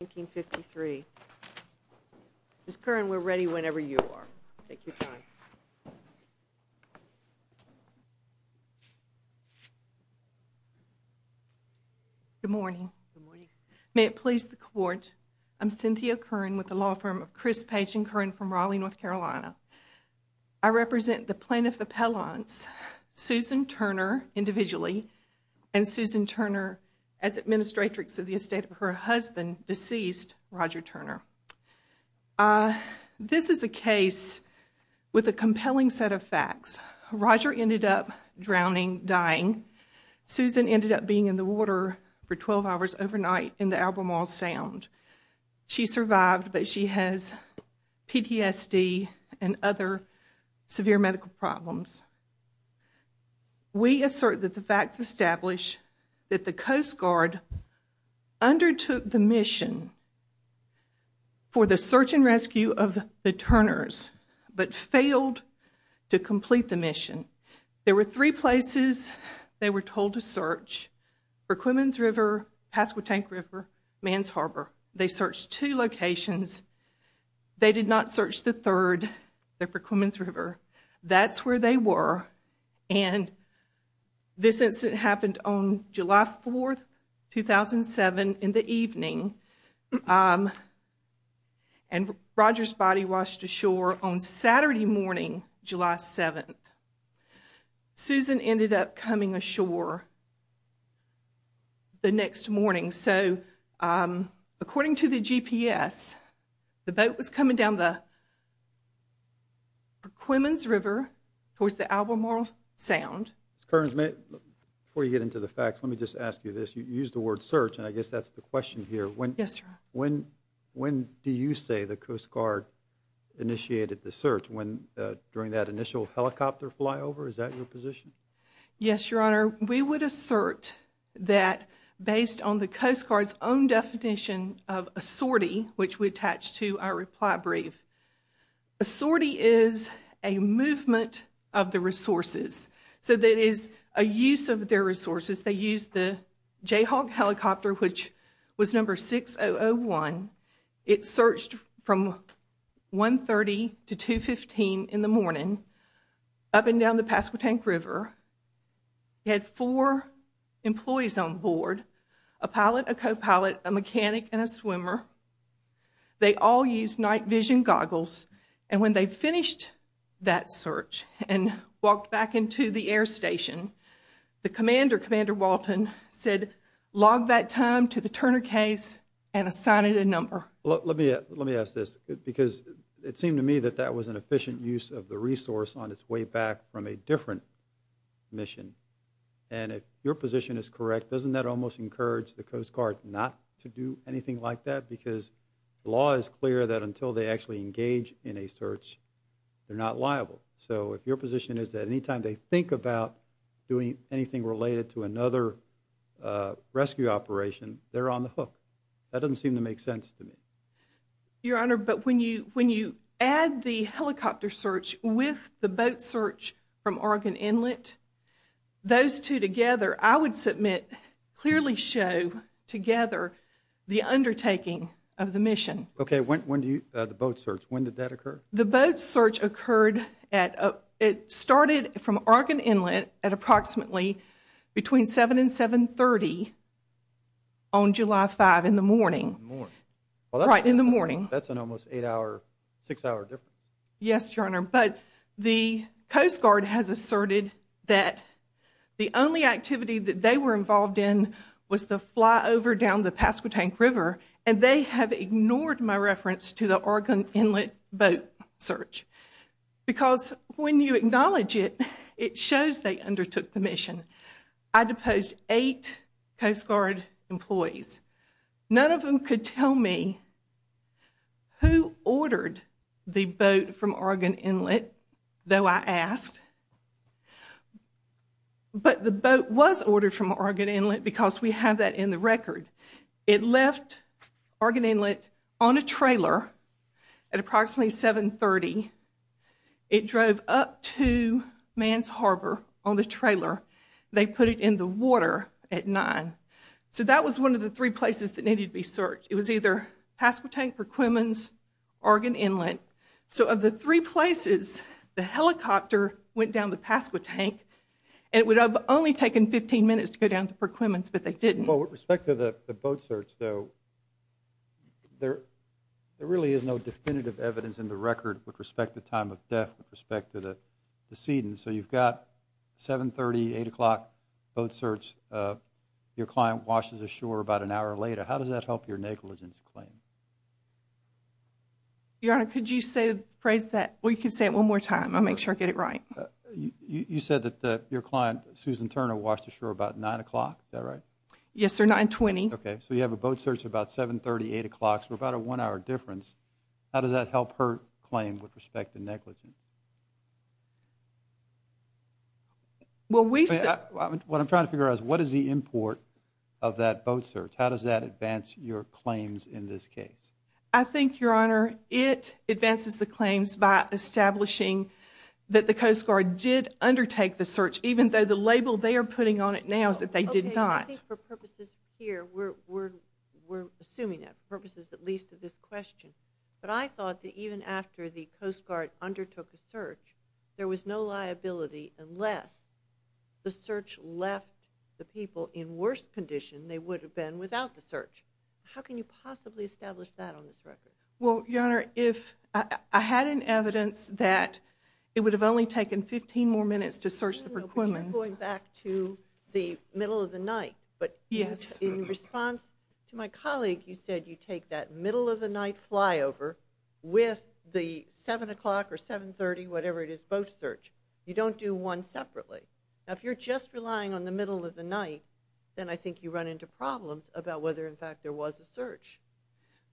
1953. Ms. Curran, we're ready whenever you are. Take your time. Good morning. May it please the court. I'm Cynthia Curran with the law firm of Chris Page and Curran from Raleigh, North Carolina. I represent the plaintiff appellants Susan Turner individually and Susan Turner as administratrix of the estate of her husband, deceased Roger Turner. This is a case with a compelling set of facts. Roger ended up drowning, dying. Susan ended up being in the water for 12 hours overnight in the Albemarle Sound. She survived but she has PTSD and other severe medical problems. We assert that the facts establish that the Coast Guard undertook the mission for the search and rescue of the Turners but failed to complete the mission. There were three places they were told to search. Perquimans River, Pasquotank River, Man's Harbor. They searched two locations. They did not search the third, the Perquimans River. That's where they were and this incident happened on July 4th, 2007 in the evening and Roger's body washed ashore on Saturday morning, July 7th. Susan ended up coming ashore the next morning. So according to the GPS, the boat was coming down the Perquimans River towards the Albemarle Sound. Ms. Kearns, before you get into the facts, let me just ask you this. You used the word search and I guess that's the question here. Yes, sir. When do you say the Coast Guard initiated the search during that initial helicopter flyover? Is that your position? Yes, your honor. We would assert that based on the Coast Guard's own definition of a sortie, which we attach to our reply brief. A sortie is a movement of the resources. So that is a use of their resources. They used the Jayhawk helicopter, which was number 6001. It searched from 130 to 215 in the morning up and down the Pasquotank River. It had four employees on board, a pilot, a co-pilot, a mechanic, and a swimmer. They all used night vision goggles and when they finished that search and walked back into the air station, the commander, Commander Walton, said log that time to the Turner case and assign it a number. Let me ask this because it seemed to me that that was an efficient use of the resource on its way back from a different mission. And if your position is correct, doesn't that almost encourage the Coast Guard not to do anything like that? Because the law is clear that until they actually engage in a search, they're not liable. So if your position is that anytime they think about doing anything related to another rescue operation, they're on the hook. That doesn't seem to make sense to me. Your honor, but when you when you add the helicopter search with the boat search from Oregon Inlet, those two together, I would submit clearly show together the undertaking of the mission. Okay, when do you, the boat search, when did that occur? The boat search occurred at, it started from Oregon Inlet at approximately between 7 and 7 30 on July 5 in the morning. Right in the morning. That's an almost eight hour, six hour difference. Yes, your honor, but the Coast Guard has asserted that the only activity that they were involved in was the fly over down the Pasquotank River, and they have ignored my reference to the Oregon Inlet boat search. Because when you acknowledge it, it shows they undertook the mission. I deposed eight Coast Guard employees. None of them could tell me who ordered the boat from Oregon Inlet, though I asked. But the boat was ordered from Oregon Inlet because we have that in the record. It left Oregon Inlet on a trailer at approximately 7 30. It drove up to Man's Harbor on the trailer. They put it in the water at 9. So that was one of the three places that needed to be searched. It was either Pasquotank, Perquimans, Oregon Inlet. So of the three places, the helicopter went down the Pasquotank, and it would have only taken 15 minutes to go down to Perquimans, but they didn't. Well, with respect to the boat search, though, there really is no definitive evidence in the record with respect to time of death, with respect to the proceedings. So you've got 7 30, 8 o'clock boat search. Your client washes ashore about an hour later. How does that help We can say it one more time. I'll make sure I get it right. You said that your client, Susan Turner, washed ashore about 9 o'clock. Is that right? Yes, sir. 9 20. Okay. So you have a boat search about 7 30, 8 o'clock. So about a one hour difference. How does that help her claim with respect to negligence? What I'm trying to figure out is what is the import of that boat search? How does that advance your claims in this case? I think, Your Honor, it advances the claims by establishing that the Coast Guard did undertake the search, even though the label they are putting on it now is that they did not. I think for purposes here, we're assuming that purposes that leads to this question, but I thought that even after the Coast Guard undertook a search, there was no liability unless the search left the people in worse condition they would have been without the search. How can you possibly establish that on this record? Well, Your Honor, if I had an evidence that it would have only taken 15 more minutes to search the Perquimans going back to the middle of the night, but yes, in response to my colleague, you said you take that middle of the night flyover with the 7 o'clock or 7 30, whatever it is, boat search. You don't do one separately. Now, if you're just relying on the middle of the night, then I think you run into problems about whether, in fact, there was a search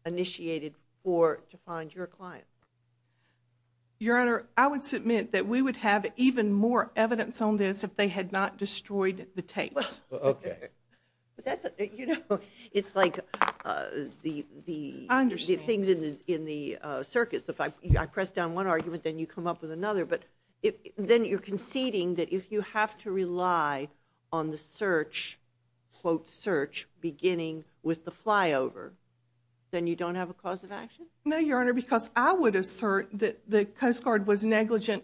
initiated for to find your client. Your Honor, I would submit that we would have even more evidence on this if they had not destroyed the tapes. Okay, but that's, you know, it's like the the things in the circus. If I press down one argument, then you come up with another, but then you're conceding that if you have to rely on the search, quote search, beginning with the flyover, then you don't have a cause of action? No, Your Honor, because I would assert that the Coast Guard was negligent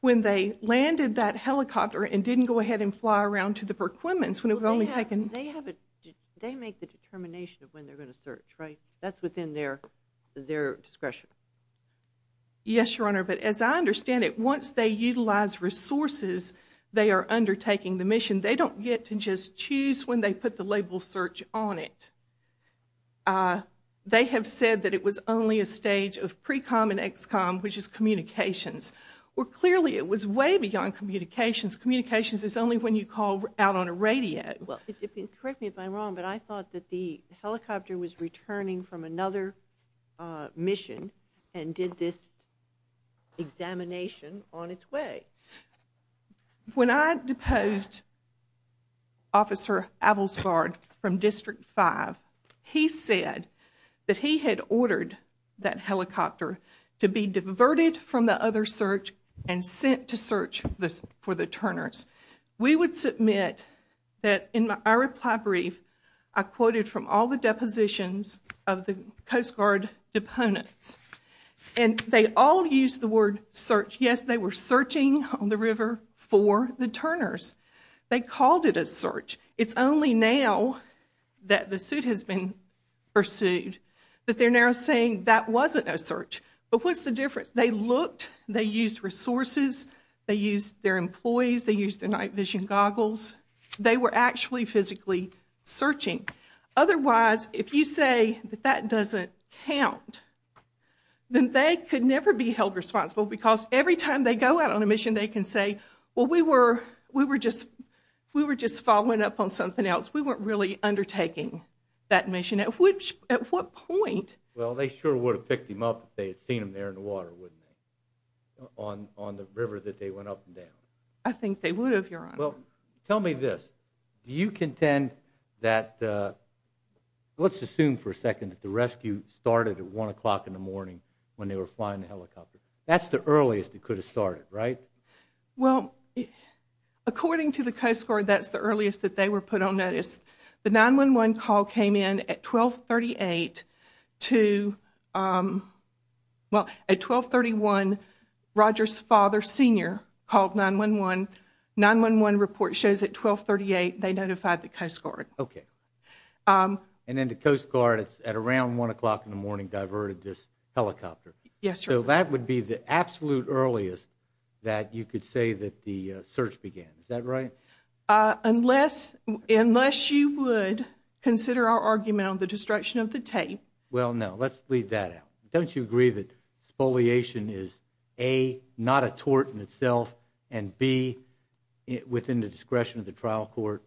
when they landed that helicopter and didn't go ahead and fly around to the Perquimans when it was only taken. They have it. They make the determination of when they're going to search, right? That's within their their discretion. Yes, Your Honor, but as I resources they are undertaking the mission, they don't get to just choose when they put the label search on it. They have said that it was only a stage of pre-com and ex-com, which is communications, where clearly it was way beyond communications. Communications is only when you call out on a radio. Well, correct me if I'm wrong, but I thought that the helicopter was returning from another mission and did this examination on its way. When I deposed Officer Avilsgard from District 5, he said that he had ordered that helicopter to be diverted from the other search and sent to search this for the Turners. We would submit that in my reply brief, I quoted from all the depositions of the Coast Guard deponents and they all used the word search. Yes, they were searching on the river for the Turners. They called it a search. It's only now that the suit has been pursued that they're now saying that wasn't a search, but what's the difference? They looked, they used resources, they used their employees, they used their night vision goggles. They were actually physically searching. Otherwise, if you say that that doesn't count, then they could never be held responsible because every time they go out on a mission, they can say, well, we were we were just we were just following up on something else. We weren't really undertaking that mission. At which, at what point? Well, they sure would have picked him up if they had seen him there in the water, wouldn't they? On on the river that they went up and down. I think they would have, Your Honor. Well, tell me this. Do you contend that, let's assume for a second, that the rescue started at one o'clock in the morning when they were flying the helicopter? That's the earliest it could have started, right? Well, according to the Coast Guard, that's the earliest that they were put on notice. The 911 call came in at 1238 to, well, at 1231, Roger's father, Sr., called 911. 911 report shows at 1238 they notified the Coast Guard. Okay. And then the Coast Guard, at around one o'clock in the morning, diverted this helicopter. Yes, sir. So that would be the absolute earliest that you could say that the search began. Is that right? Unless you would consider our argument on the destruction of the tape. Well, no. Let's leave that Don't you agree that spoliation is, A, not a tort in itself and, B, within the discretion of the trial court?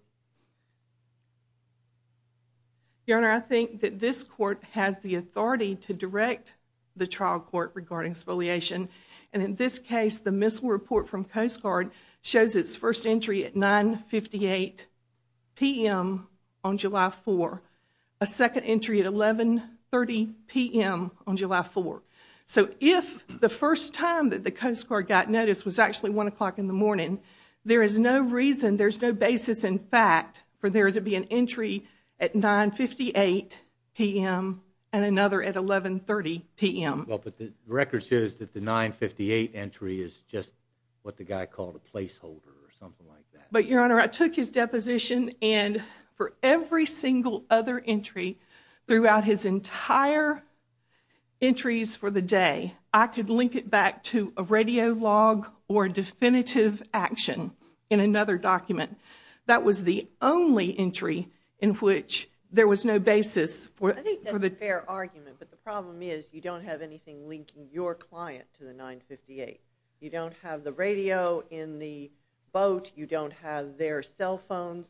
Your Honor, I think that this court has the authority to direct the trial court regarding spoliation. And in this case, the missile report from Coast Guard shows its first entry at 9 58 p.m. on July 4. A second entry at 11 30 p.m. on July 4. So if the first time that the Coast Guard got notice was actually one o'clock in the morning, there is no reason, there's no basis in fact, for there to be an entry at 9 58 p.m. and another at 11 30 p.m. Well, but the record says that the 9 58 entry is just what the guy called a placeholder or something like that. But, Your Honor, I took his deposition and for every single other entry throughout his entire entries for the day, I could link it back to a radio log or definitive action in another document. That was the only entry in which there was no basis for the fair argument. But the problem is you don't have anything linking your client to the 9 58. You don't have the radio in the boat. You don't have their cell phones.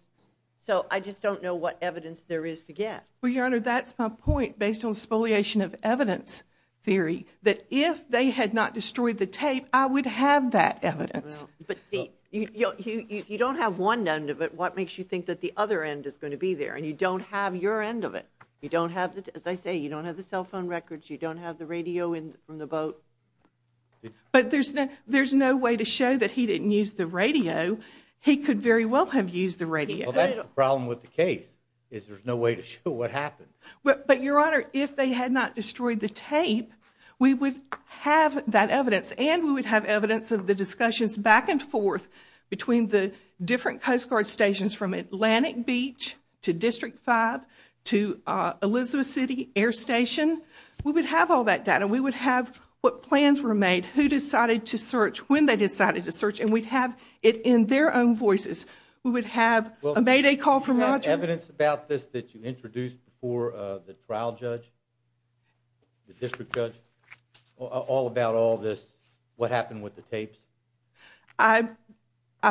So I just don't know what evidence there is to get. Well, Your Honor, that's my point based on spoliation of evidence theory that if they had not destroyed the tape, I would have that evidence. But see, you don't have one end of it. What makes you think that the other end is going to be there? And you don't have your end of it. You don't have, as I say, you don't have the cell phone records. You don't have the radio in from the boat. But there's no way to that he didn't use the radio. He could very well have used the radio. Well, that's the problem with the case is there's no way to show what happened. But Your Honor, if they had not destroyed the tape, we would have that evidence and we would have evidence of the discussions back and forth between the different Coast Guard stations from Atlantic Beach to District 5 to Elizabeth City Air Station. We would have all that data. We would have what plans were made, who decided to search, when they decided to search, and we'd have it in their own voices. We would have a Mayday call from Roger. Do you have evidence about this that you introduced before the trial judge, the district judge, all about all this, what happened with the tapes? I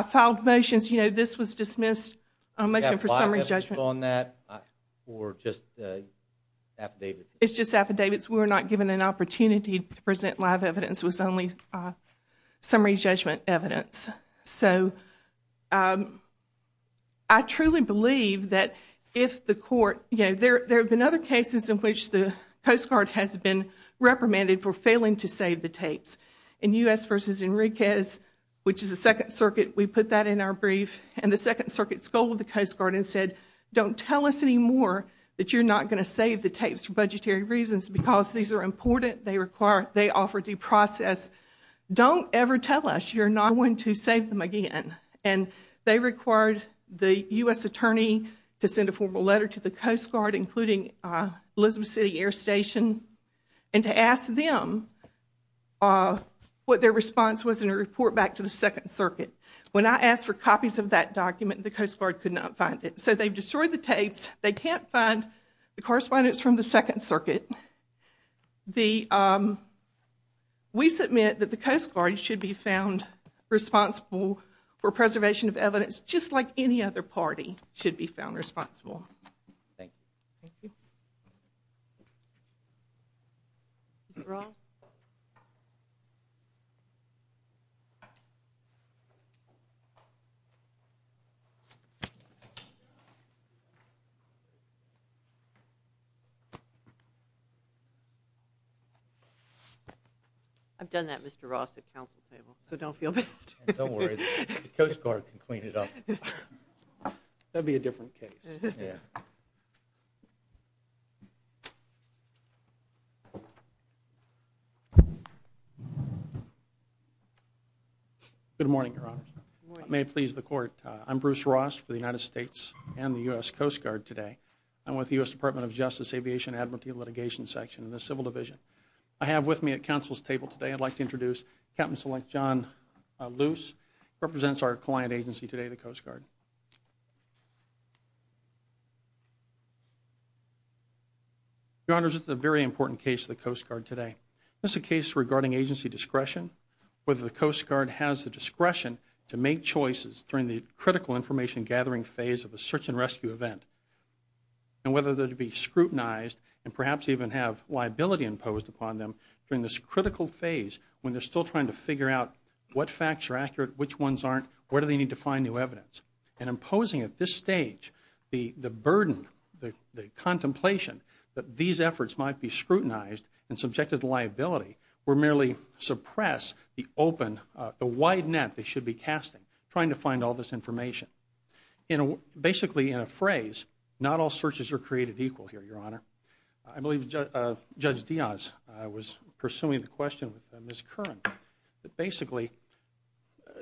filed motions, you know, this was dismissed a motion for summary judgment. Do you have file evidence on that or just affidavits? We were not given an opportunity to present live evidence. It was only summary judgment evidence. I truly believe that if the court, you know, there have been other cases in which the Coast Guard has been reprimanded for failing to save the tapes. In U.S. v. Enriquez, which is the Second Circuit, we put that in our brief and the Second Circuit scolded the Coast Guard and said, don't tell us anymore that you're not going to save the tapes for budgetary reasons, because these are important. They require, they offer due process. Don't ever tell us you're not going to save them again. And they required the U.S. attorney to send a formal letter to the Coast Guard, including Elizabeth City Air Station, and to ask them what their response was in a report back to the Second Circuit. When I asked for copies of that document, the Coast Guard could not find it. So they've destroyed the tapes. They can't find the correspondence from the Second Circuit. We submit that the Coast Guard should be found responsible for preservation of evidence, just like any other party should be found responsible. I've done that, Mr. Ross, at council table, so don't feel bad. Don't worry, the Coast Guard can clean it up. That'd be a different case, yeah. Good morning, Your Honor. May it please the Court, I'm Bruce Ross for the United States Department of Justice Aviation Advocacy and Litigation Section in the Civil Division. I have with me at council's table today, I'd like to introduce Captain Select John Luce, who represents our client agency today, the Coast Guard. Your Honor, this is a very important case of the Coast Guard today. This is a case regarding agency discretion, whether the Coast Guard has the discretion to make choices during the critical information gathering phase of a search and rescue event, and whether they're to be scrutinized and perhaps even have liability imposed upon them during this critical phase when they're still trying to figure out what facts are accurate, which ones aren't, where do they need to find new evidence. And imposing at this stage the burden, the contemplation that these efforts might be scrutinized and subjected to liability will merely suppress the open, the wide net they should be casting trying to find all this information. Basically in a phrase, not all searches are created equal here, Your Honor. I believe Judge Diaz was pursuing the question with Ms. Curran, that basically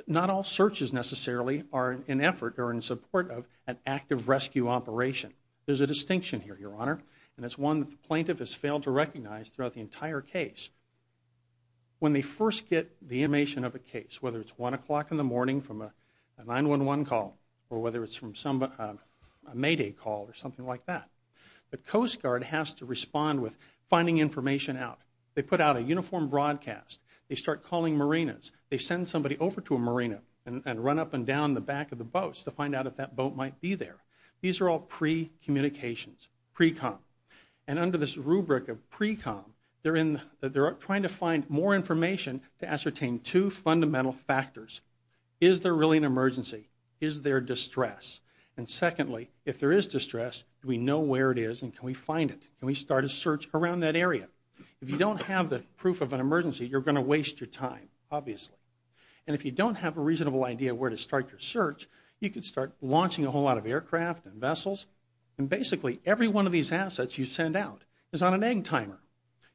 not all searches necessarily are in effort or in support of an active rescue operation. There's a distinction here, Your Honor, and it's one the plaintiff has failed to recognize throughout the entire case. When they first get the information of a case, whether it's one o'clock in the or whether it's from some Mayday call or something like that, the Coast Guard has to respond with finding information out. They put out a uniform broadcast, they start calling marinas, they send somebody over to a marina and run up and down the back of the boats to find out if that boat might be there. These are all pre-communications, pre-com, and under this rubric of pre-com, they're in, they're trying to find more information to ascertain two fundamental factors. Is there really an emergency? Is there distress? And secondly, if there is distress, do we know where it is and can we find it? Can we start a search around that area? If you don't have the proof of an emergency, you're going to waste your time, obviously. And if you don't have a reasonable idea where to start your search, you could start launching a whole lot of aircraft and vessels, and basically every one of these assets you send out is on an egg timer.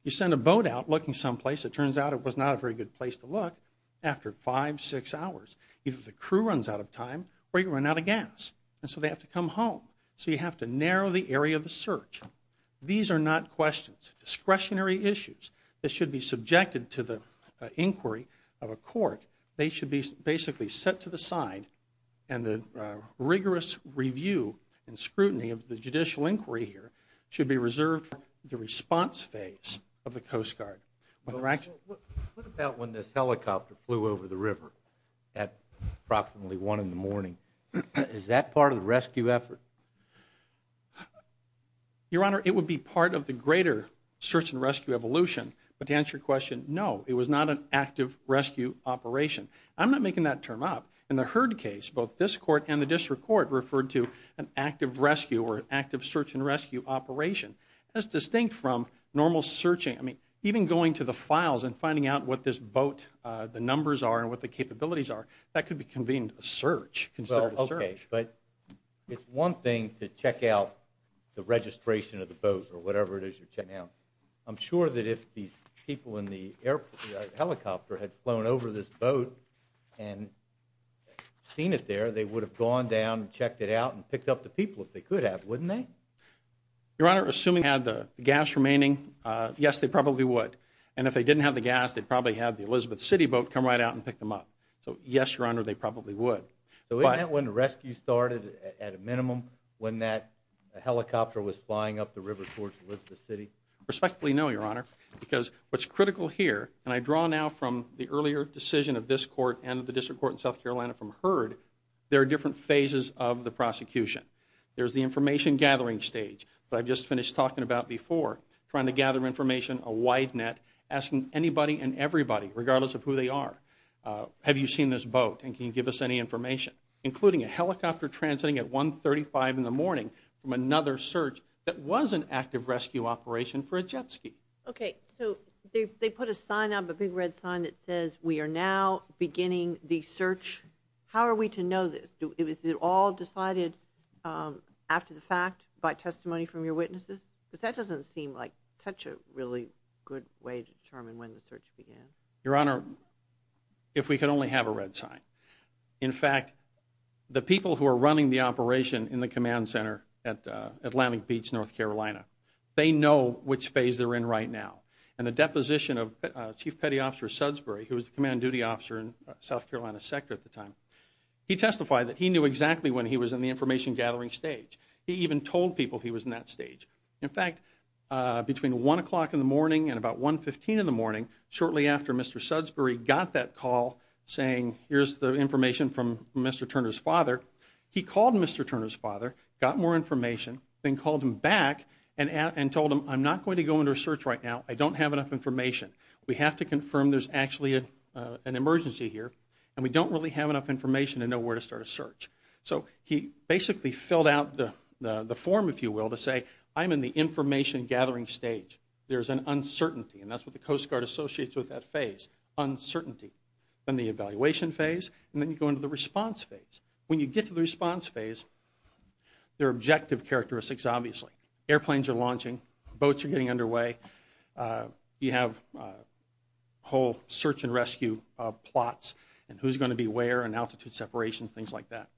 You send a boat out looking someplace, it turns out it was not a very good place to look after five, six hours. Either the crew runs out of time or you run out of gas, and so they have to come home. So you have to narrow the area of the search. These are not questions, discretionary issues that should be subjected to the inquiry of a court. They should be basically set to the side and the rigorous review and scrutiny of the judicial inquiry here should be reserved for the response phase of the Coast Guard. What about when this helicopter flew over the river at approximately one in the morning? Is that part of the rescue effort? Your Honor, it would be part of the greater search and rescue evolution, but to answer your question, no, it was not an active rescue operation. I'm not making that term up. In the Heard case, both this court and the district court referred to an active rescue or active search and rescue operation. That's distinct from normal searching. Even going to the files and finding out what this boat, the numbers are, and what the capabilities are, that could be convened a search. Okay, but it's one thing to check out the registration of the boat or whatever it is you're checking out. I'm sure that if these people in the helicopter had flown over this boat and seen it there, they would have gone down and checked it out and picked up the people if they could have, wouldn't they? Your Honor, assuming they had the gas remaining, yes, they probably would. And if they didn't have the gas, they'd probably have the Elizabeth City boat come right out and pick them up. So yes, Your Honor, they probably would. So isn't that when the rescue started at a minimum, when that helicopter was flying up the river towards Elizabeth City? Respectfully, no, Your Honor, because what's critical here, and I draw now from the earlier decision of this court and the district court in South Carolina from Heard, there are different phases of the I've just finished talking about before, trying to gather information, a wide net, asking anybody and everybody, regardless of who they are, have you seen this boat and can you give us any information? Including a helicopter transiting at 135 in the morning from another search that was an active rescue operation for a jet ski. Okay, so they put a sign up, a big red sign that says we are now beginning the search. How are we to know this? Is it all decided after the fact by testimony from your witnesses? Because that doesn't seem like such a really good way to determine when the search began. Your Honor, if we could only have a red sign. In fact, the people who are running the operation in the command center at Atlantic Beach, North Carolina, they know which phase they're in right now. And the deposition of Chief Petty Officer Sudsbury, who was the command duty officer in South Carolina's sector at the time, he testified that he knew exactly when he was in the information gathering stage. He even told people he was in that stage. In fact, between one o'clock in the morning and about 1 15 in the morning, shortly after Mr. Sudsbury got that call saying here's the information from Mr. Turner's father, he called Mr. Turner's father, got more information, then called him back and told him I'm not going to go into a search right now, I don't have enough information. We have to confirm there's actually an emergency here and we don't really have enough information to know where to start a search. So he basically filled out the the form, if you will, to say I'm in the information gathering stage. There's an uncertainty and that's what the Coast Guard associates with that phase. Uncertainty. Then the evaluation phase and then you go into the response phase. When you get to the response phase, there are objective characteristics obviously. Airplanes are launching, boats are getting underway, you have a whole search and rescue plots and who's going to be where and altitude separations, things like that.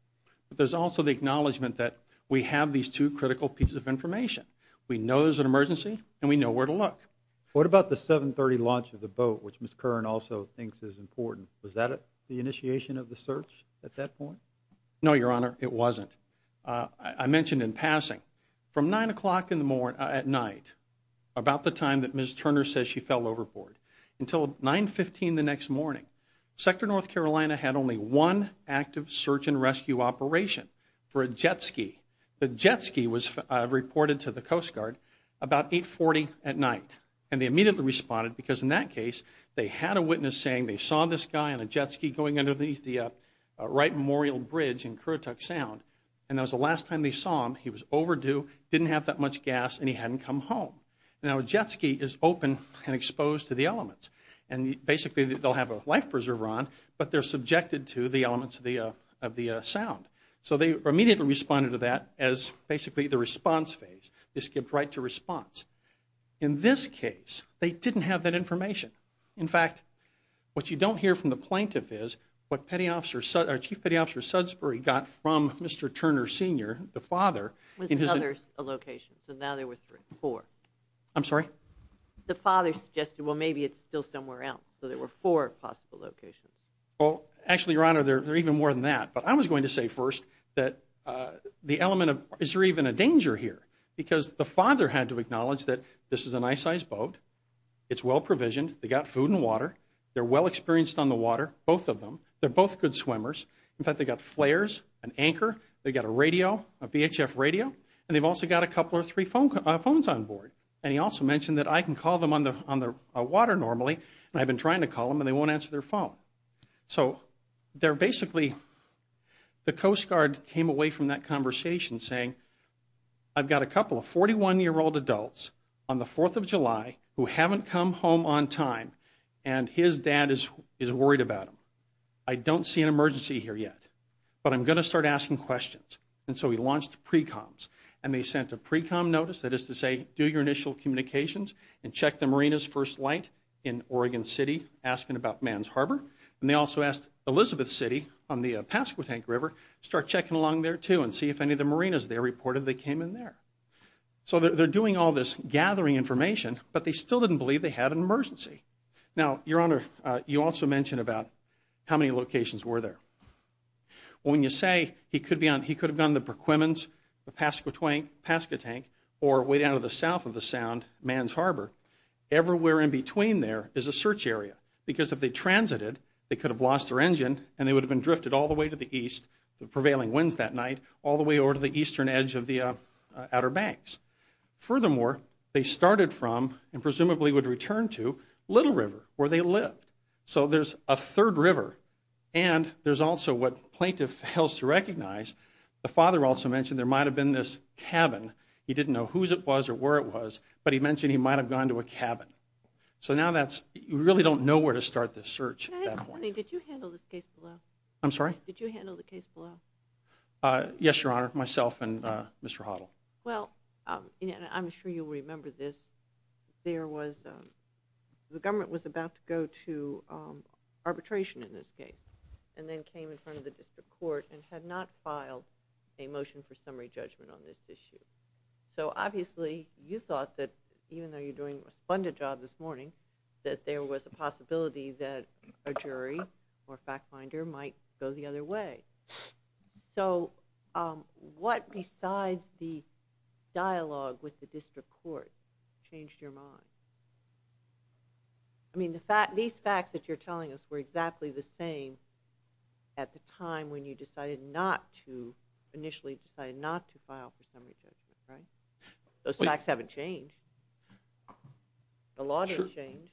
But there's also the acknowledgement that we have these two critical pieces of information. We know there's an emergency and we know where to look. What about the 7 30 launch of the boat, which Ms. Kern also thinks is important? Was that the initiation of the search at that point? No, your honor, it wasn't. I mentioned in passing, from nine o'clock in the morning, at night, about the time that Ms. Turner says she fell overboard, until 9 15 the next morning. Sector North Carolina had only one active search and rescue operation for a jet ski. The jet ski was reported to the Coast Guard about 8 40 at night and they immediately responded because in that case, they had a witness saying they saw this guy on a jet ski going underneath the Wright Memorial Bridge in Kurutuk Sound and that was the last time they saw him. He was overdue, didn't have that much gas and he hadn't come home. Now a jet ski is open and exposed to the elements and basically they'll have a life preserver on but they're subjected to the elements of the sound. So they immediately responded to that as basically the response phase. They skipped right to response. In this case, they didn't have that information. In fact, what you don't hear from the plaintiff is what Chief Petty Officer Sudsbury got from Mr. Turner Sr., the father. Was another a location? So now there were four. I'm sorry? The father suggested well maybe it's still somewhere else so there were four possible locations. Well actually your honor, there are even more than that but I was going to say first that the element of is there even a danger here because the father had to acknowledge that this is a nice size boat, it's well provisioned, they got food and water, they're well experienced on the water, both of them, they're both good swimmers. In fact, they got flares, an anchor, they got a radio, a VHF radio and they've also got a couple or three phones on board and he also mentioned that I can call them on the water normally and I've been trying to call them and they won't answer their phone. So they're basically, the Coast Guard came away from that conversation saying I've got a couple of 41 year old adults on the 4th of July who haven't come home on time and his dad is worried about them. I don't see an emergency here yet but I'm going to start asking questions and so he launched pre-coms and they sent a pre-com notice that is to say do your initial communications and check the marina's first light in Oregon City asking about Man's Harbor and they also asked Elizabeth City on the Pasquotank River start checking along there too and see if any of the marinas there reported they came in there. So they're doing all this gathering information but they still didn't believe they had an emergency. Now, Your Honor, you also mentioned about how many locations were there. When you say he could have gone the Perquimans, the Pasquotank or way down to the south of the Sound, Man's Harbor, everywhere in between there is a search area because if they transited they could have lost their engine and they would have been drifted all the way to the east, the prevailing winds that night, all the way over to the eastern edge of the Outer Banks. Furthermore, they started from and presumably would return to Little River where they lived. So there's a third river and there's also what plaintiff fails to recognize. The father also mentioned there might have been this cabin. He didn't know whose it was or where it was but he mentioned he might have gone to a cabin. So now that's, you really don't know where to start this search at that point. Did you handle this case? I'm sorry? Did you handle the case? Yes, Your Honor, myself and Mr. Hoddle. Well, I'm sure you'll remember this. There was, the government was about to go to arbitration in this case and then came in front of the district court and had not filed a motion for summary judgment on this issue. So obviously you thought that even though you're doing a splendid job this morning that there was a possibility that a jury or fact finder might go the other way. So what besides the dialogue with the district court changed your mind? I mean the fact, these facts that you're telling us were exactly the same at the time when you decided not to, initially decided not to file for summary judgment, right? Those facts haven't changed. The law didn't change.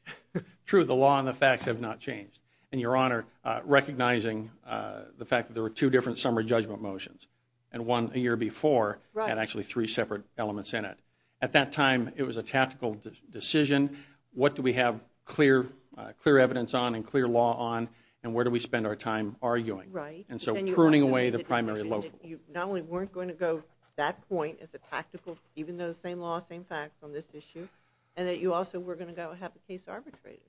True, the law and the facts have not changed. And Your Honor, recognizing the fact that there were two different summary judgment motions and one a year before had actually three separate elements in it. At that time it was a tactical decision. What do we have clear evidence on and clear law on and where do we spend our time arguing? Right. And so pruning away the primary law. Not only weren't going to go that point as a tactical, even though the same law, same facts on this issue, and that you also were going to go have case arbitrated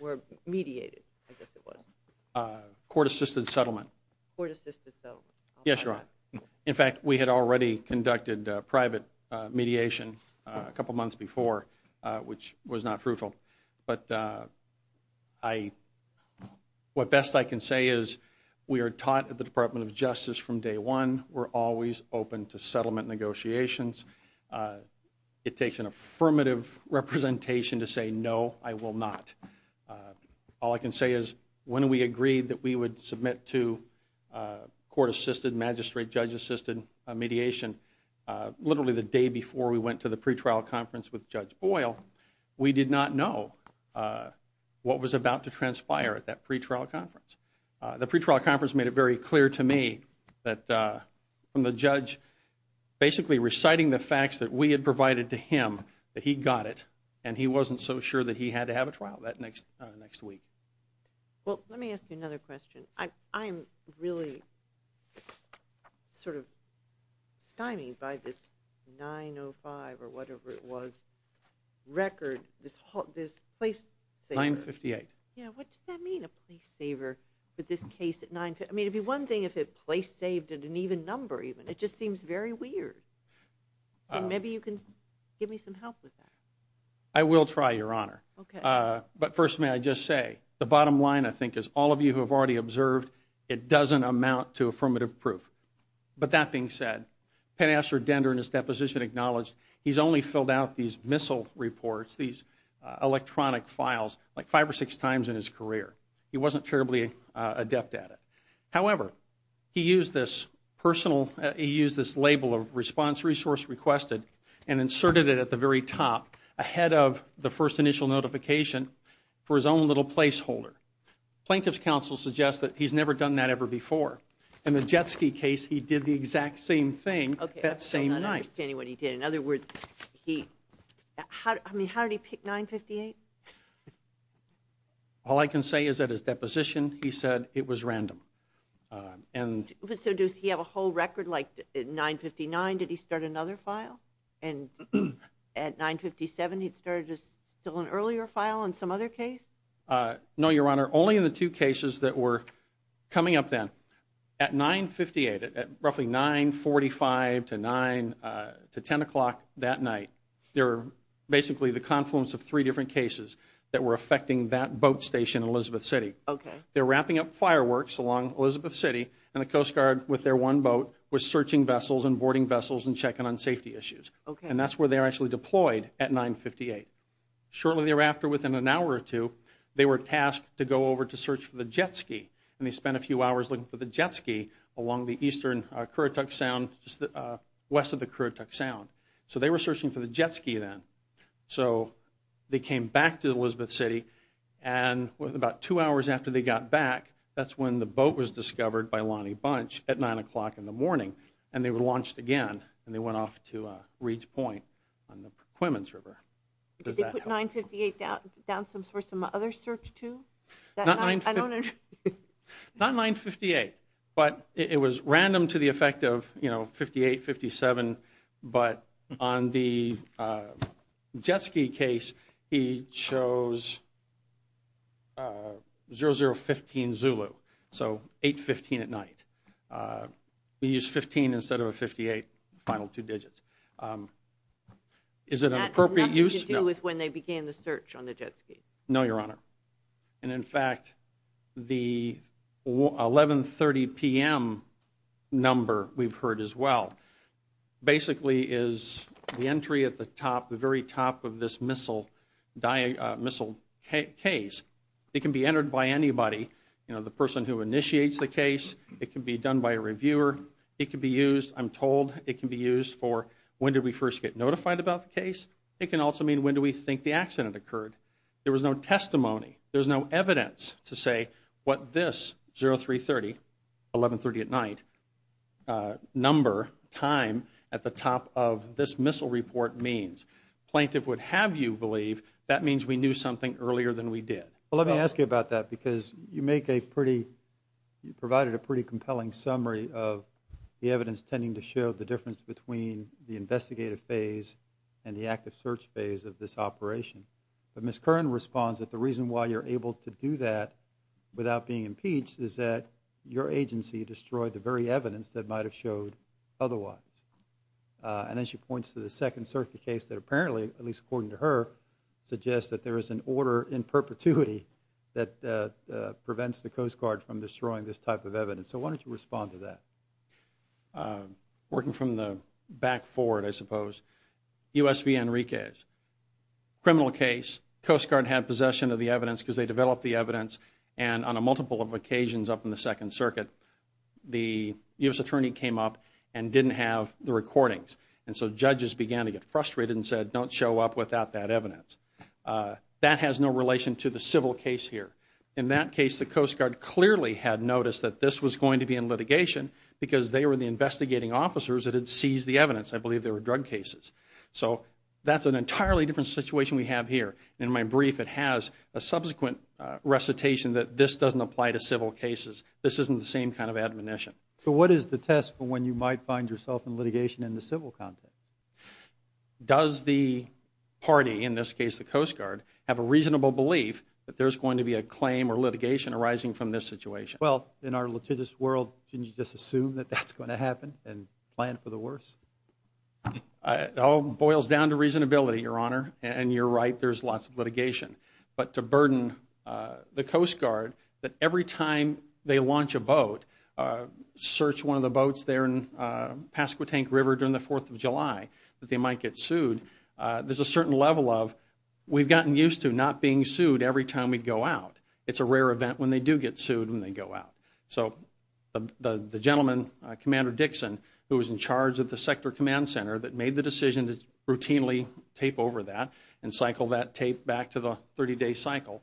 or mediated, I guess it was. Court-assisted settlement. Court-assisted settlement. Yes, Your Honor. In fact, we had already conducted private mediation a couple months before, which was not fruitful. But what best I can say is we are taught at the Department of Justice from day one, we're always open to settlement negotiations. It takes an affirmative representation to say no, I will not. All I can say is when we agreed that we would submit to court-assisted, magistrate-judge-assisted mediation, literally the day before we went to the pretrial conference with Judge Boyle, we did not know what was about to transpire at that pretrial conference. The pretrial conference made it very clear to me that from the judge basically reciting the so sure that he had to have a trial that next week. Well, let me ask you another question. I'm really sort of stymied by this 905 or whatever it was record, this place saver. 958. Yeah, what does that mean, a place saver with this case at 958? I mean, it'd be one thing if it place saved at an even number even. It just seems very weird. Maybe you can give me some help with that. I will try, Your Honor. But first, may I just say, the bottom line, I think, is all of you who have already observed, it doesn't amount to affirmative proof. But that being said, Pen Aster Dender in his deposition acknowledged he's only filled out these missile reports, these electronic files, like five or six times in his career. He wasn't terribly adept at it. However, he used this personal, he used this label of response resource requested and inserted it at the very top ahead of the first initial notification for his own little placeholder. Plaintiff's counsel suggests that he's never done that ever before. In the Jet Ski case, he did the exact same thing that same night. I'm not understanding what he did. In other words, he, I mean, how did he pick 958? All I can say is that his deposition, he said it was random. So, does he have a whole record, like 959, did he start another file? And at 957, he'd started just still an earlier file on some other case? No, Your Honor. Only in the two cases that were coming up then. At 958, at roughly 945 to 9 to 10 o'clock that night, there were basically the confluence of three different cases that were affecting that boat station Okay. They're wrapping up fireworks along Elizabeth City and the Coast Guard with their one boat was searching vessels and boarding vessels and checking on safety issues. Okay. And that's where they're actually deployed at 958. Shortly thereafter, within an hour or two, they were tasked to go over to search for the Jet Ski and they spent a few hours looking for the Jet Ski along the eastern Kuruktuk Sound, just west of the Kuruktuk Sound. So, they were searching for the Jet Ski then. So, they came back to Elizabeth City and with about two hours after they got back, that's when the boat was discovered by Lonnie Bunch at nine o'clock in the morning and they were launched again and they went off to Reed's Point on the Coquemins River. Did they put 958 down for some other search too? Not 958, but it was random to the effect of, you know, the Jet Ski case, he chose 0015 Zulu. So, 815 at night. We used 15 instead of a 58, final two digits. Is it an appropriate use? That had nothing to do with when they began the search on the Jet Ski. No, Your Honor. And in fact, the 11 30 p.m. number we've heard as well basically is the entry at the top, the very top of this missile case. It can be entered by anybody, you know, the person who initiates the case. It can be done by a reviewer. It can be used, I'm told, it can be used for when did we first get notified about the case. It can also mean when do we think the accident occurred. There was no testimony. There's no evidence to say what this 0330, 1130 at night, number, time at the top of this missile report means. Plaintiff would have you believe that means we knew something earlier than we did. Well, let me ask you about that because you make a pretty, you provided a pretty compelling summary of the evidence tending to show the difference between the investigative phase and the active search phase of this operation. But Ms. Kern responds that the reason why you're able to do that without being impeached is that your agency destroyed the very evidence that might have showed otherwise. And then she points to the second circuit case that apparently, at least according to her, suggests that there is an order in perpetuity that prevents the Coast Guard from destroying this type of evidence. So why don't you respond to that? Working from the back forward, I suppose, USV Enriquez, criminal case. Coast Guard had possession of the evidence because they developed the evidence and on a multiple of occasions up in the second circuit, the U.S. attorney came up and didn't have the recordings. And so judges began to get frustrated and said don't show up without that evidence. That has no relation to the civil case here. In that case the Coast Guard clearly had noticed that this was going to be in litigation because they were the investigating officers that had seized the evidence. I So that's an entirely different situation we have here. In my brief, it has a subsequent recitation that this doesn't apply to civil cases. This isn't the same kind of admonition. So what is the test for when you might find yourself in litigation in the civil context? Does the party, in this case the Coast Guard, have a reasonable belief that there's going to be a claim or litigation arising from this situation? Well, in our litigious world, shouldn't you just assume that that's going to happen and plan for the worst? It all boils down to reasonability, your honor. And you're right, there's lots of litigation. But to burden the Coast Guard that every time they launch a boat, search one of the boats there in Pasquotank River during the 4th of July, that they might get sued, there's a certain level of we've gotten used to not being sued every time we go out. It's a rare event when they do get sued when they go out. So the gentleman, Commander Dixon, who was in charge of the Sector Command Center that made the decision to routinely tape over that and cycle that tape back to the 30-day cycle,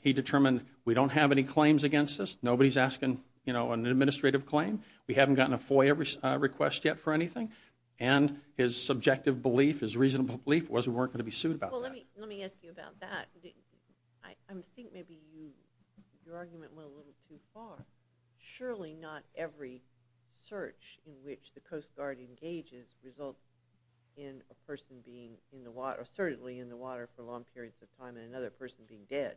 he determined we don't have any claims against us. Nobody's asking, you know, an administrative claim. We haven't gotten a FOIA request yet for anything. And his subjective belief, his reasonable belief, was we weren't going to be sued about that. Let me ask you about that. I think maybe your argument went a little too far. Surely not every search in which the Coast Guard engages results in a person being in the water, certainly in the water for long periods of time, and another person being dead.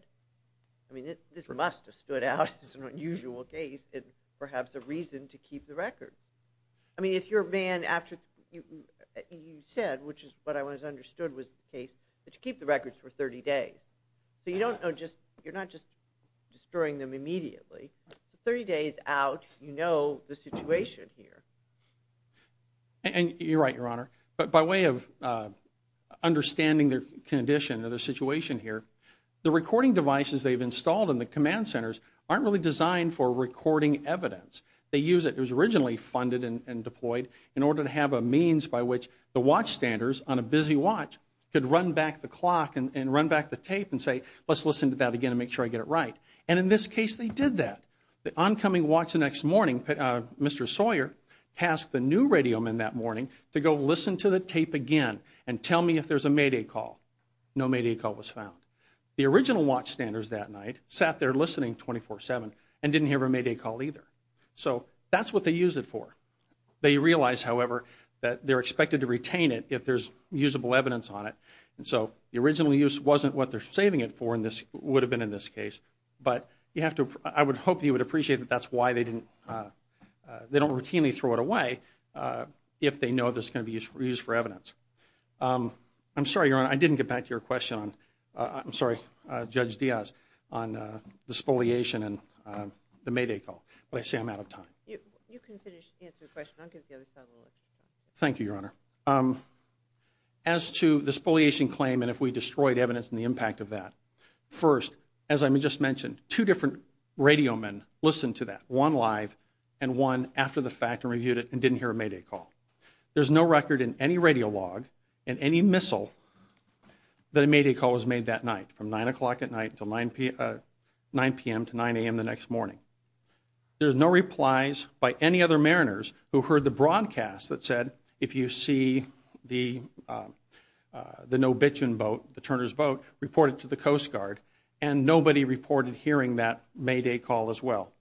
I mean, this must have stood out as an unusual case and perhaps a reason to keep the record. I mean, if your man, after you said, which is what I was understood was the case, that you keep the records for 30 days. So you don't know just, you're not just destroying them immediately. 30 days out, you know the situation here. And you're right, Your Honor. But by way of understanding the condition of the situation here, the recording devices they've installed in the command centers aren't really designed for recording evidence. They use it, it was originally funded and deployed, in order to have a means by which the watchstanders on a busy watch could run back the clock and run back the tape and say, let's listen to that again and make sure I get it right. And in this case, they did that. The oncoming watch the next morning, Mr. Sawyer, tasked the new radio man that morning to go listen to the tape again and tell me if there's a Mayday call. No Mayday call was found. The original watchstanders that night sat there listening 24-7 and didn't hear a Mayday call either. So that's what they use it for. They realize, however, that they're expected to retain it if there's usable evidence on it. And so the original use wasn't what they're saving it for in this, would have been in this case. But you have to, I would hope you would appreciate that that's why they didn't, they don't routinely throw it away if they know this is going to be used for evidence. I'm sorry, Your Honor, I didn't get back to your question on, I'm sorry, Judge Diaz, on the spoliation and the Mayday call. But I say I'm out of time. You can finish answering the question, I'll give the other side of the list. Thank you, Your Honor. As to the spoliation claim and if we destroyed evidence and the impact of that, first, as I just mentioned, two different radio men listened to that, one live and one after the fact and reviewed it and didn't hear a Mayday call. There's no record in any radio log and any missile that a Mayday call was made that night from 9 o'clock at night until 9 p.m. to 9 a.m. the next morning. There's no replies by any other mariners who heard the broadcast that said if you see the Nobitchin boat, the Turner's boat, reported to the Coast Guard and nobody reported hearing that Mayday call as well.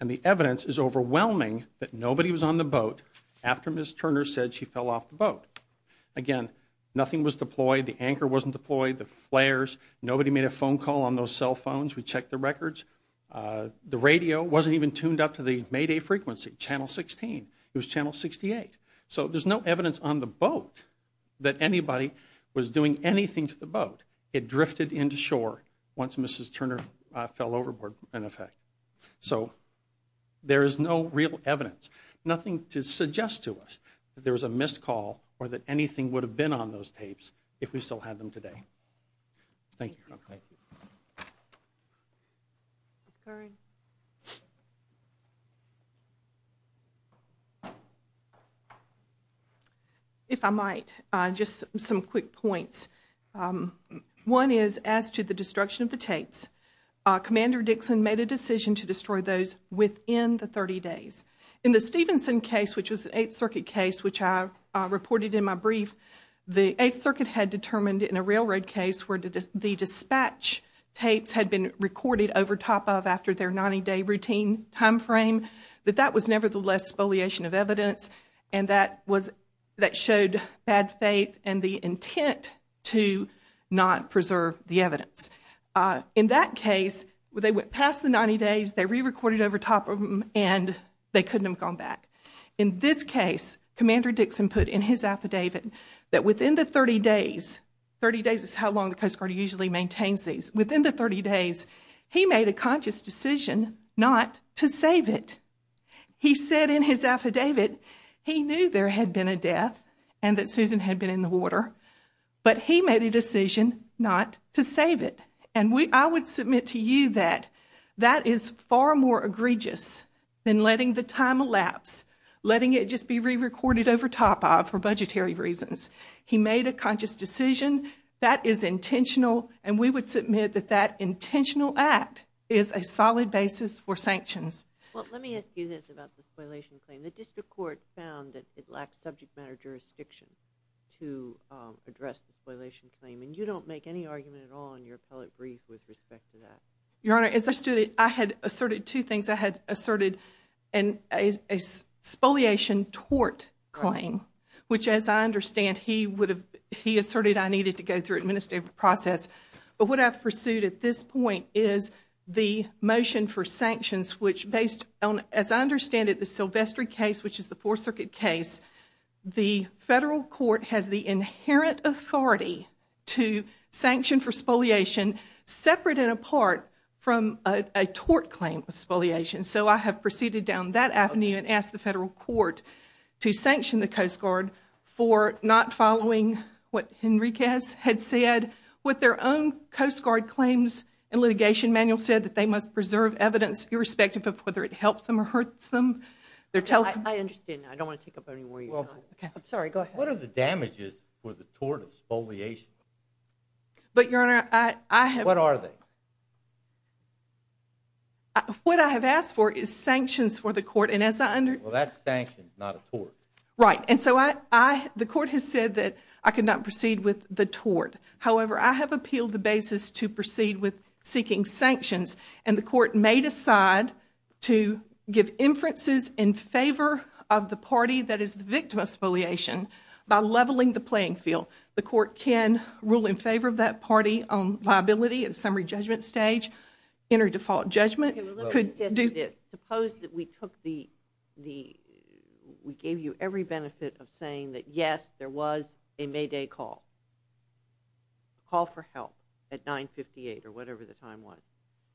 And the evidence is overwhelming that nobody was on the boat after Ms. Turner said she fell off the boat. Again, nothing was deployed, the anchor wasn't deployed, the flares, nobody made a phone call on those cell records, the radio wasn't even tuned up to the Mayday frequency, channel 16, it was channel 68. So there's no evidence on the boat that anybody was doing anything to the boat. It drifted into shore once Mrs. Turner fell overboard, in effect. So there is no real evidence, nothing to suggest to us that there was a missed call or that anything would have been on if we still had them today. Thank you. If I might, just some quick points. One is as to the destruction of the tapes, Commander Dixon made a decision to destroy those within the 30 days. In the Stevenson case, which was an Eighth Circuit case, which I had determined in a railroad case where the dispatch tapes had been recorded over top of after their 90-day routine time frame, that that was nevertheless spoliation of evidence and that showed bad faith and the intent to not preserve the evidence. In that case, they went past the 90 days, they re-recorded over top of them, and they couldn't have gone back. In this case, Commander Dixon put in his affidavit that within the 30 days, 30 days is how long the Coast Guard usually maintains these, within the 30 days, he made a conscious decision not to save it. He said in his affidavit he knew there had been a death and that Susan had been in the water, but he made a decision not to save it. And I would submit to you that that is far more egregious than letting the time elapse, letting it just be re-recorded over top for budgetary reasons. He made a conscious decision, that is intentional, and we would submit that that intentional act is a solid basis for sanctions. Well, let me ask you this about the spoliation claim. The district court found that it lacked subject matter jurisdiction to address the spoliation claim, and you don't make any argument at all in your appellate brief with respect to that. Your Honor, as a student, I had asserted two things. I had asserted a spoliation tort claim, which as I understand, he would have, he asserted I needed to go through administrative process, but what I've pursued at this point is the motion for sanctions, which based on, as I understand it, the Sylvester case, which is the Fourth Circuit case, the federal court has the inherent authority to sanction for spoliation separate and apart from a tort claim of spoliation. So I have proceeded down that avenue and asked the federal court to sanction the Coast Guard for not following what Henriquez had said with their own Coast Guard claims and litigation manual said that they must preserve evidence irrespective of whether it helps them or hurts them. I understand. I don't want to take up any more of your time. I'm sorry, go ahead. What are the damages for the tort of spoliation? But, Your Honor, I have... What are they? What I have asked for is sanctions for the court and as I under... Well, that's sanctions, not a tort. Right. And so I, the court has said that I could not proceed with the tort. However, I have appealed the basis to proceed with seeking sanctions and the court may decide to give inferences in favor of the party that is the victim of spoliation by leveling the playing field. The court can rule in favor of that party on viability at summary judgment stage, inter-default judgment. Okay, well, let me say this. Suppose that we took the, we gave you every benefit of saying that, yes, there was a Mayday call. Call for help at 958 or whatever the time was.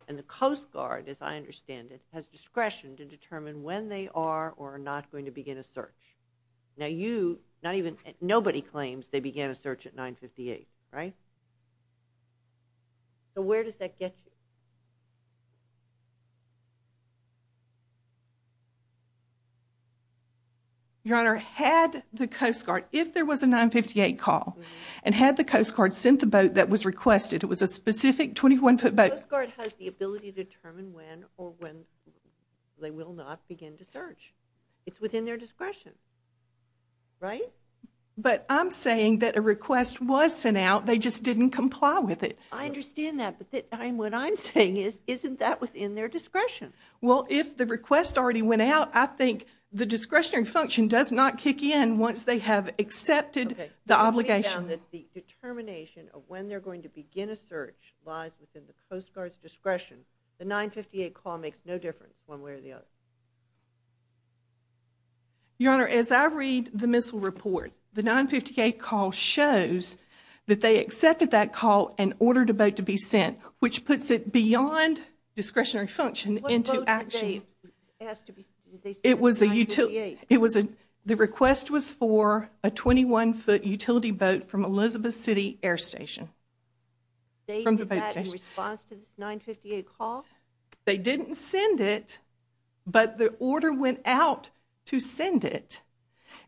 And the Coast Guard, as I understand it, has discretion to determine when they are or are not going to begin a search. Now you, not even, nobody claims they began a search at 958, right? So where does that get you? Your Honor, had the Coast Guard, if there was a 958 call and had the Coast Guard sent the boat that was requested, it was a specific 21-foot boat... The Coast Guard has the ability to determine when or when they will not begin to search. It's within their discretion, right? But I'm saying that a request was sent out, they just didn't comply with it. I understand that, but what I'm saying is, isn't that within their discretion? Well, if the request already went out, I think the discretionary function does not kick in once they have accepted the obligation. The determination of when they're going to begin a search lies within the Coast Guard's discretion. The 958 call makes no difference one way or the other. Your Honor, as I read the missile report, the 958 call shows that they accepted that call and ordered a boat to be sent, which puts it beyond discretionary function into action. What boat did they ask to be sent? It was the utility, it was a, the request was for a 21-foot utility boat from Elizabeth City Air Station. They did that in response to this 958 call? They didn't send it, but the order went out to send it.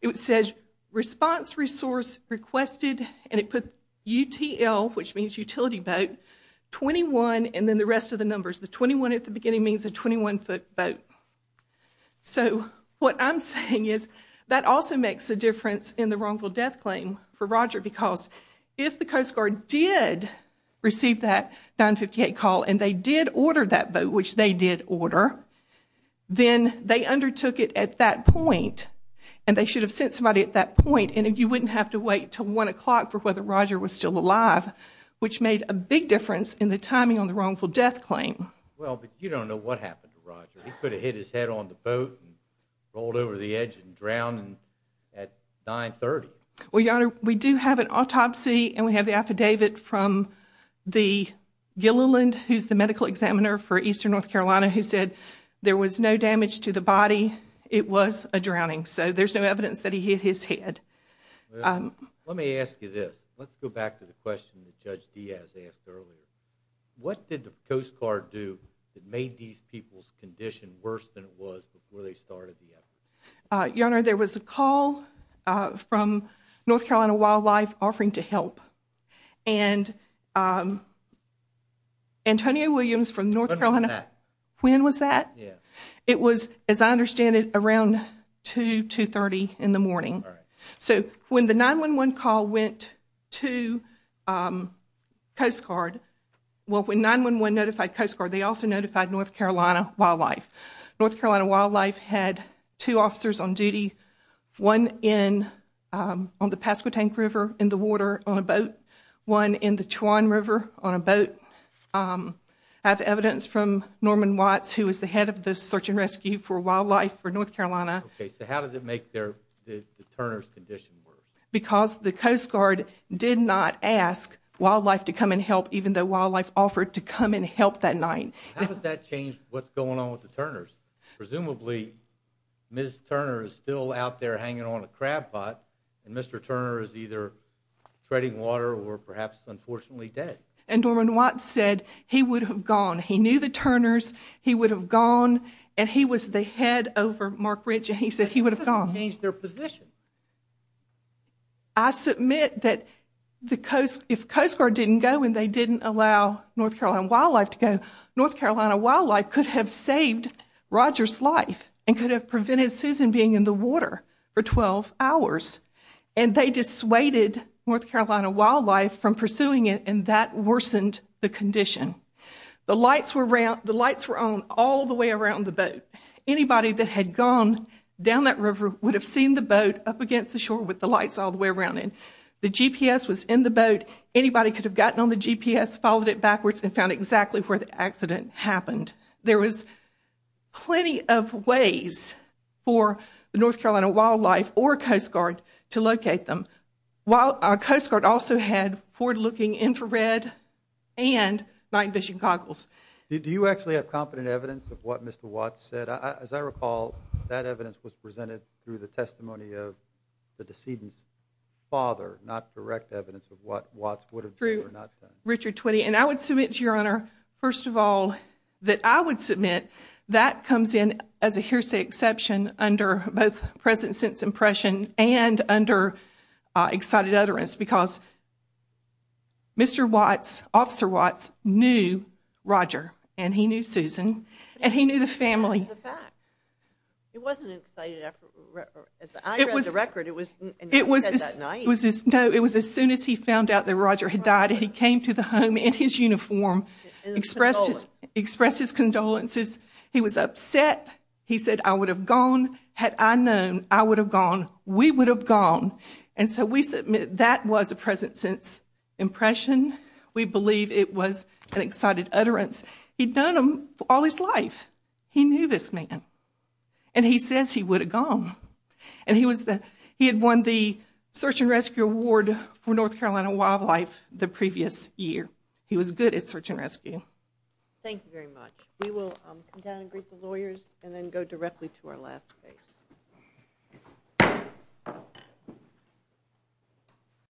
It says, response resource requested, and it put UTL, which means utility boat, 21, and then the rest of the numbers. The 21 at the beginning means a 21-foot boat. So what I'm saying is, that also makes a difference in the wrongful death claim for Roger, because if the Coast Guard did receive that 958 call and they did order that boat, which they did order, then they undertook it at that point, and they should have sent somebody at that point, and you wouldn't have to wait till one o'clock for whether Roger was still alive, which made a big difference in the timing on the wrongful death claim. Well, but you don't know what happened to Roger. He could have hit his head on the boat and rolled over the edge and drowned at 930. Well, Your Honor, we do have an autopsy, and we have the affidavit from the Gilliland, who's the medical examiner for eastern North Carolina, who said there was no damage to the body. It was a drowning. So there's no evidence that he hit his head. Let me ask you this. Let's go back to the question that Judge Diaz asked earlier. What did the Coast Guard do that made these people's condition worse than it was before they started the effort? Your Honor, there was a call from North Carolina Wildlife offering to help, and Antonio Williams from North Carolina, when was that? It was, as I understand it, around 2, 2.30 in the morning. So when the 911 call went to Coast Guard, well, when 911 notified Coast Guard, they also notified North Carolina Wildlife. North Carolina Wildlife had two officers on duty, one on the Pasquotank River in the water on a boat, one in the Chawan River on a boat. I have evidence from Norman Watts, who is the head of the search and rescue for wildlife for North Carolina. Okay, so how did it make the Turner's condition worse? Because the Coast Guard did not ask wildlife to come and help, even though wildlife offered to come and help that night. How does that change what's going on with the Turners? Presumably, Ms. Turner is still out there hanging on a crab pot, and Mr. Treadingwater, or perhaps, unfortunately, dead. And Norman Watts said he would have gone. He knew the Turners. He would have gone, and he was the head over Mark Ritchie. He said he would have gone. That doesn't change their position. I submit that if Coast Guard didn't go and they didn't allow North Carolina Wildlife to go, North Carolina Wildlife could have saved Roger's life and could have prevented Susan being in the water for 12 hours. And they dissuaded North Carolina Wildlife from pursuing it, and that worsened the condition. The lights were on all the way around the boat. Anybody that had gone down that river would have seen the boat up against the shore with the lights all the way around it. The GPS was in the boat. Anybody could have gotten on the GPS, followed it backwards, and found exactly where the accident happened. There was plenty of ways for the North Carolina Wildlife or Coast Guard to locate them, while Coast Guard also had forward-looking infrared and night vision goggles. Do you actually have competent evidence of what Mr. Watts said? As I recall, that evidence was presented through the testimony of the decedent's father, not direct evidence of what Watts would have done or not done. Richard Twitty, and I would submit to Your Honor, first of all, that I would submit that comes in as a hearsay exception under both present sense impression and under excited utterance, because Mr. Watts, Officer Watts, knew Roger, and he knew Susan, and he knew the family. It wasn't an excited utterance. I read the record. It was as soon as he found out that Roger had died, and he came to the home in his uniform, expressed his condolences. He was upset. He said, I would have gone. Had I known, I would have gone. We would have gone. And so we submit that was a present sense impression. We believe it was an excited utterance. He'd known him all his life. He knew this man, and he says he would have gone. And he had won the Search and Rescue Award for North Carolina Wildlife the previous year. He was good at Search and Rescue. Thank you very much. We will come down and greet the lawyers and then go directly to our last case.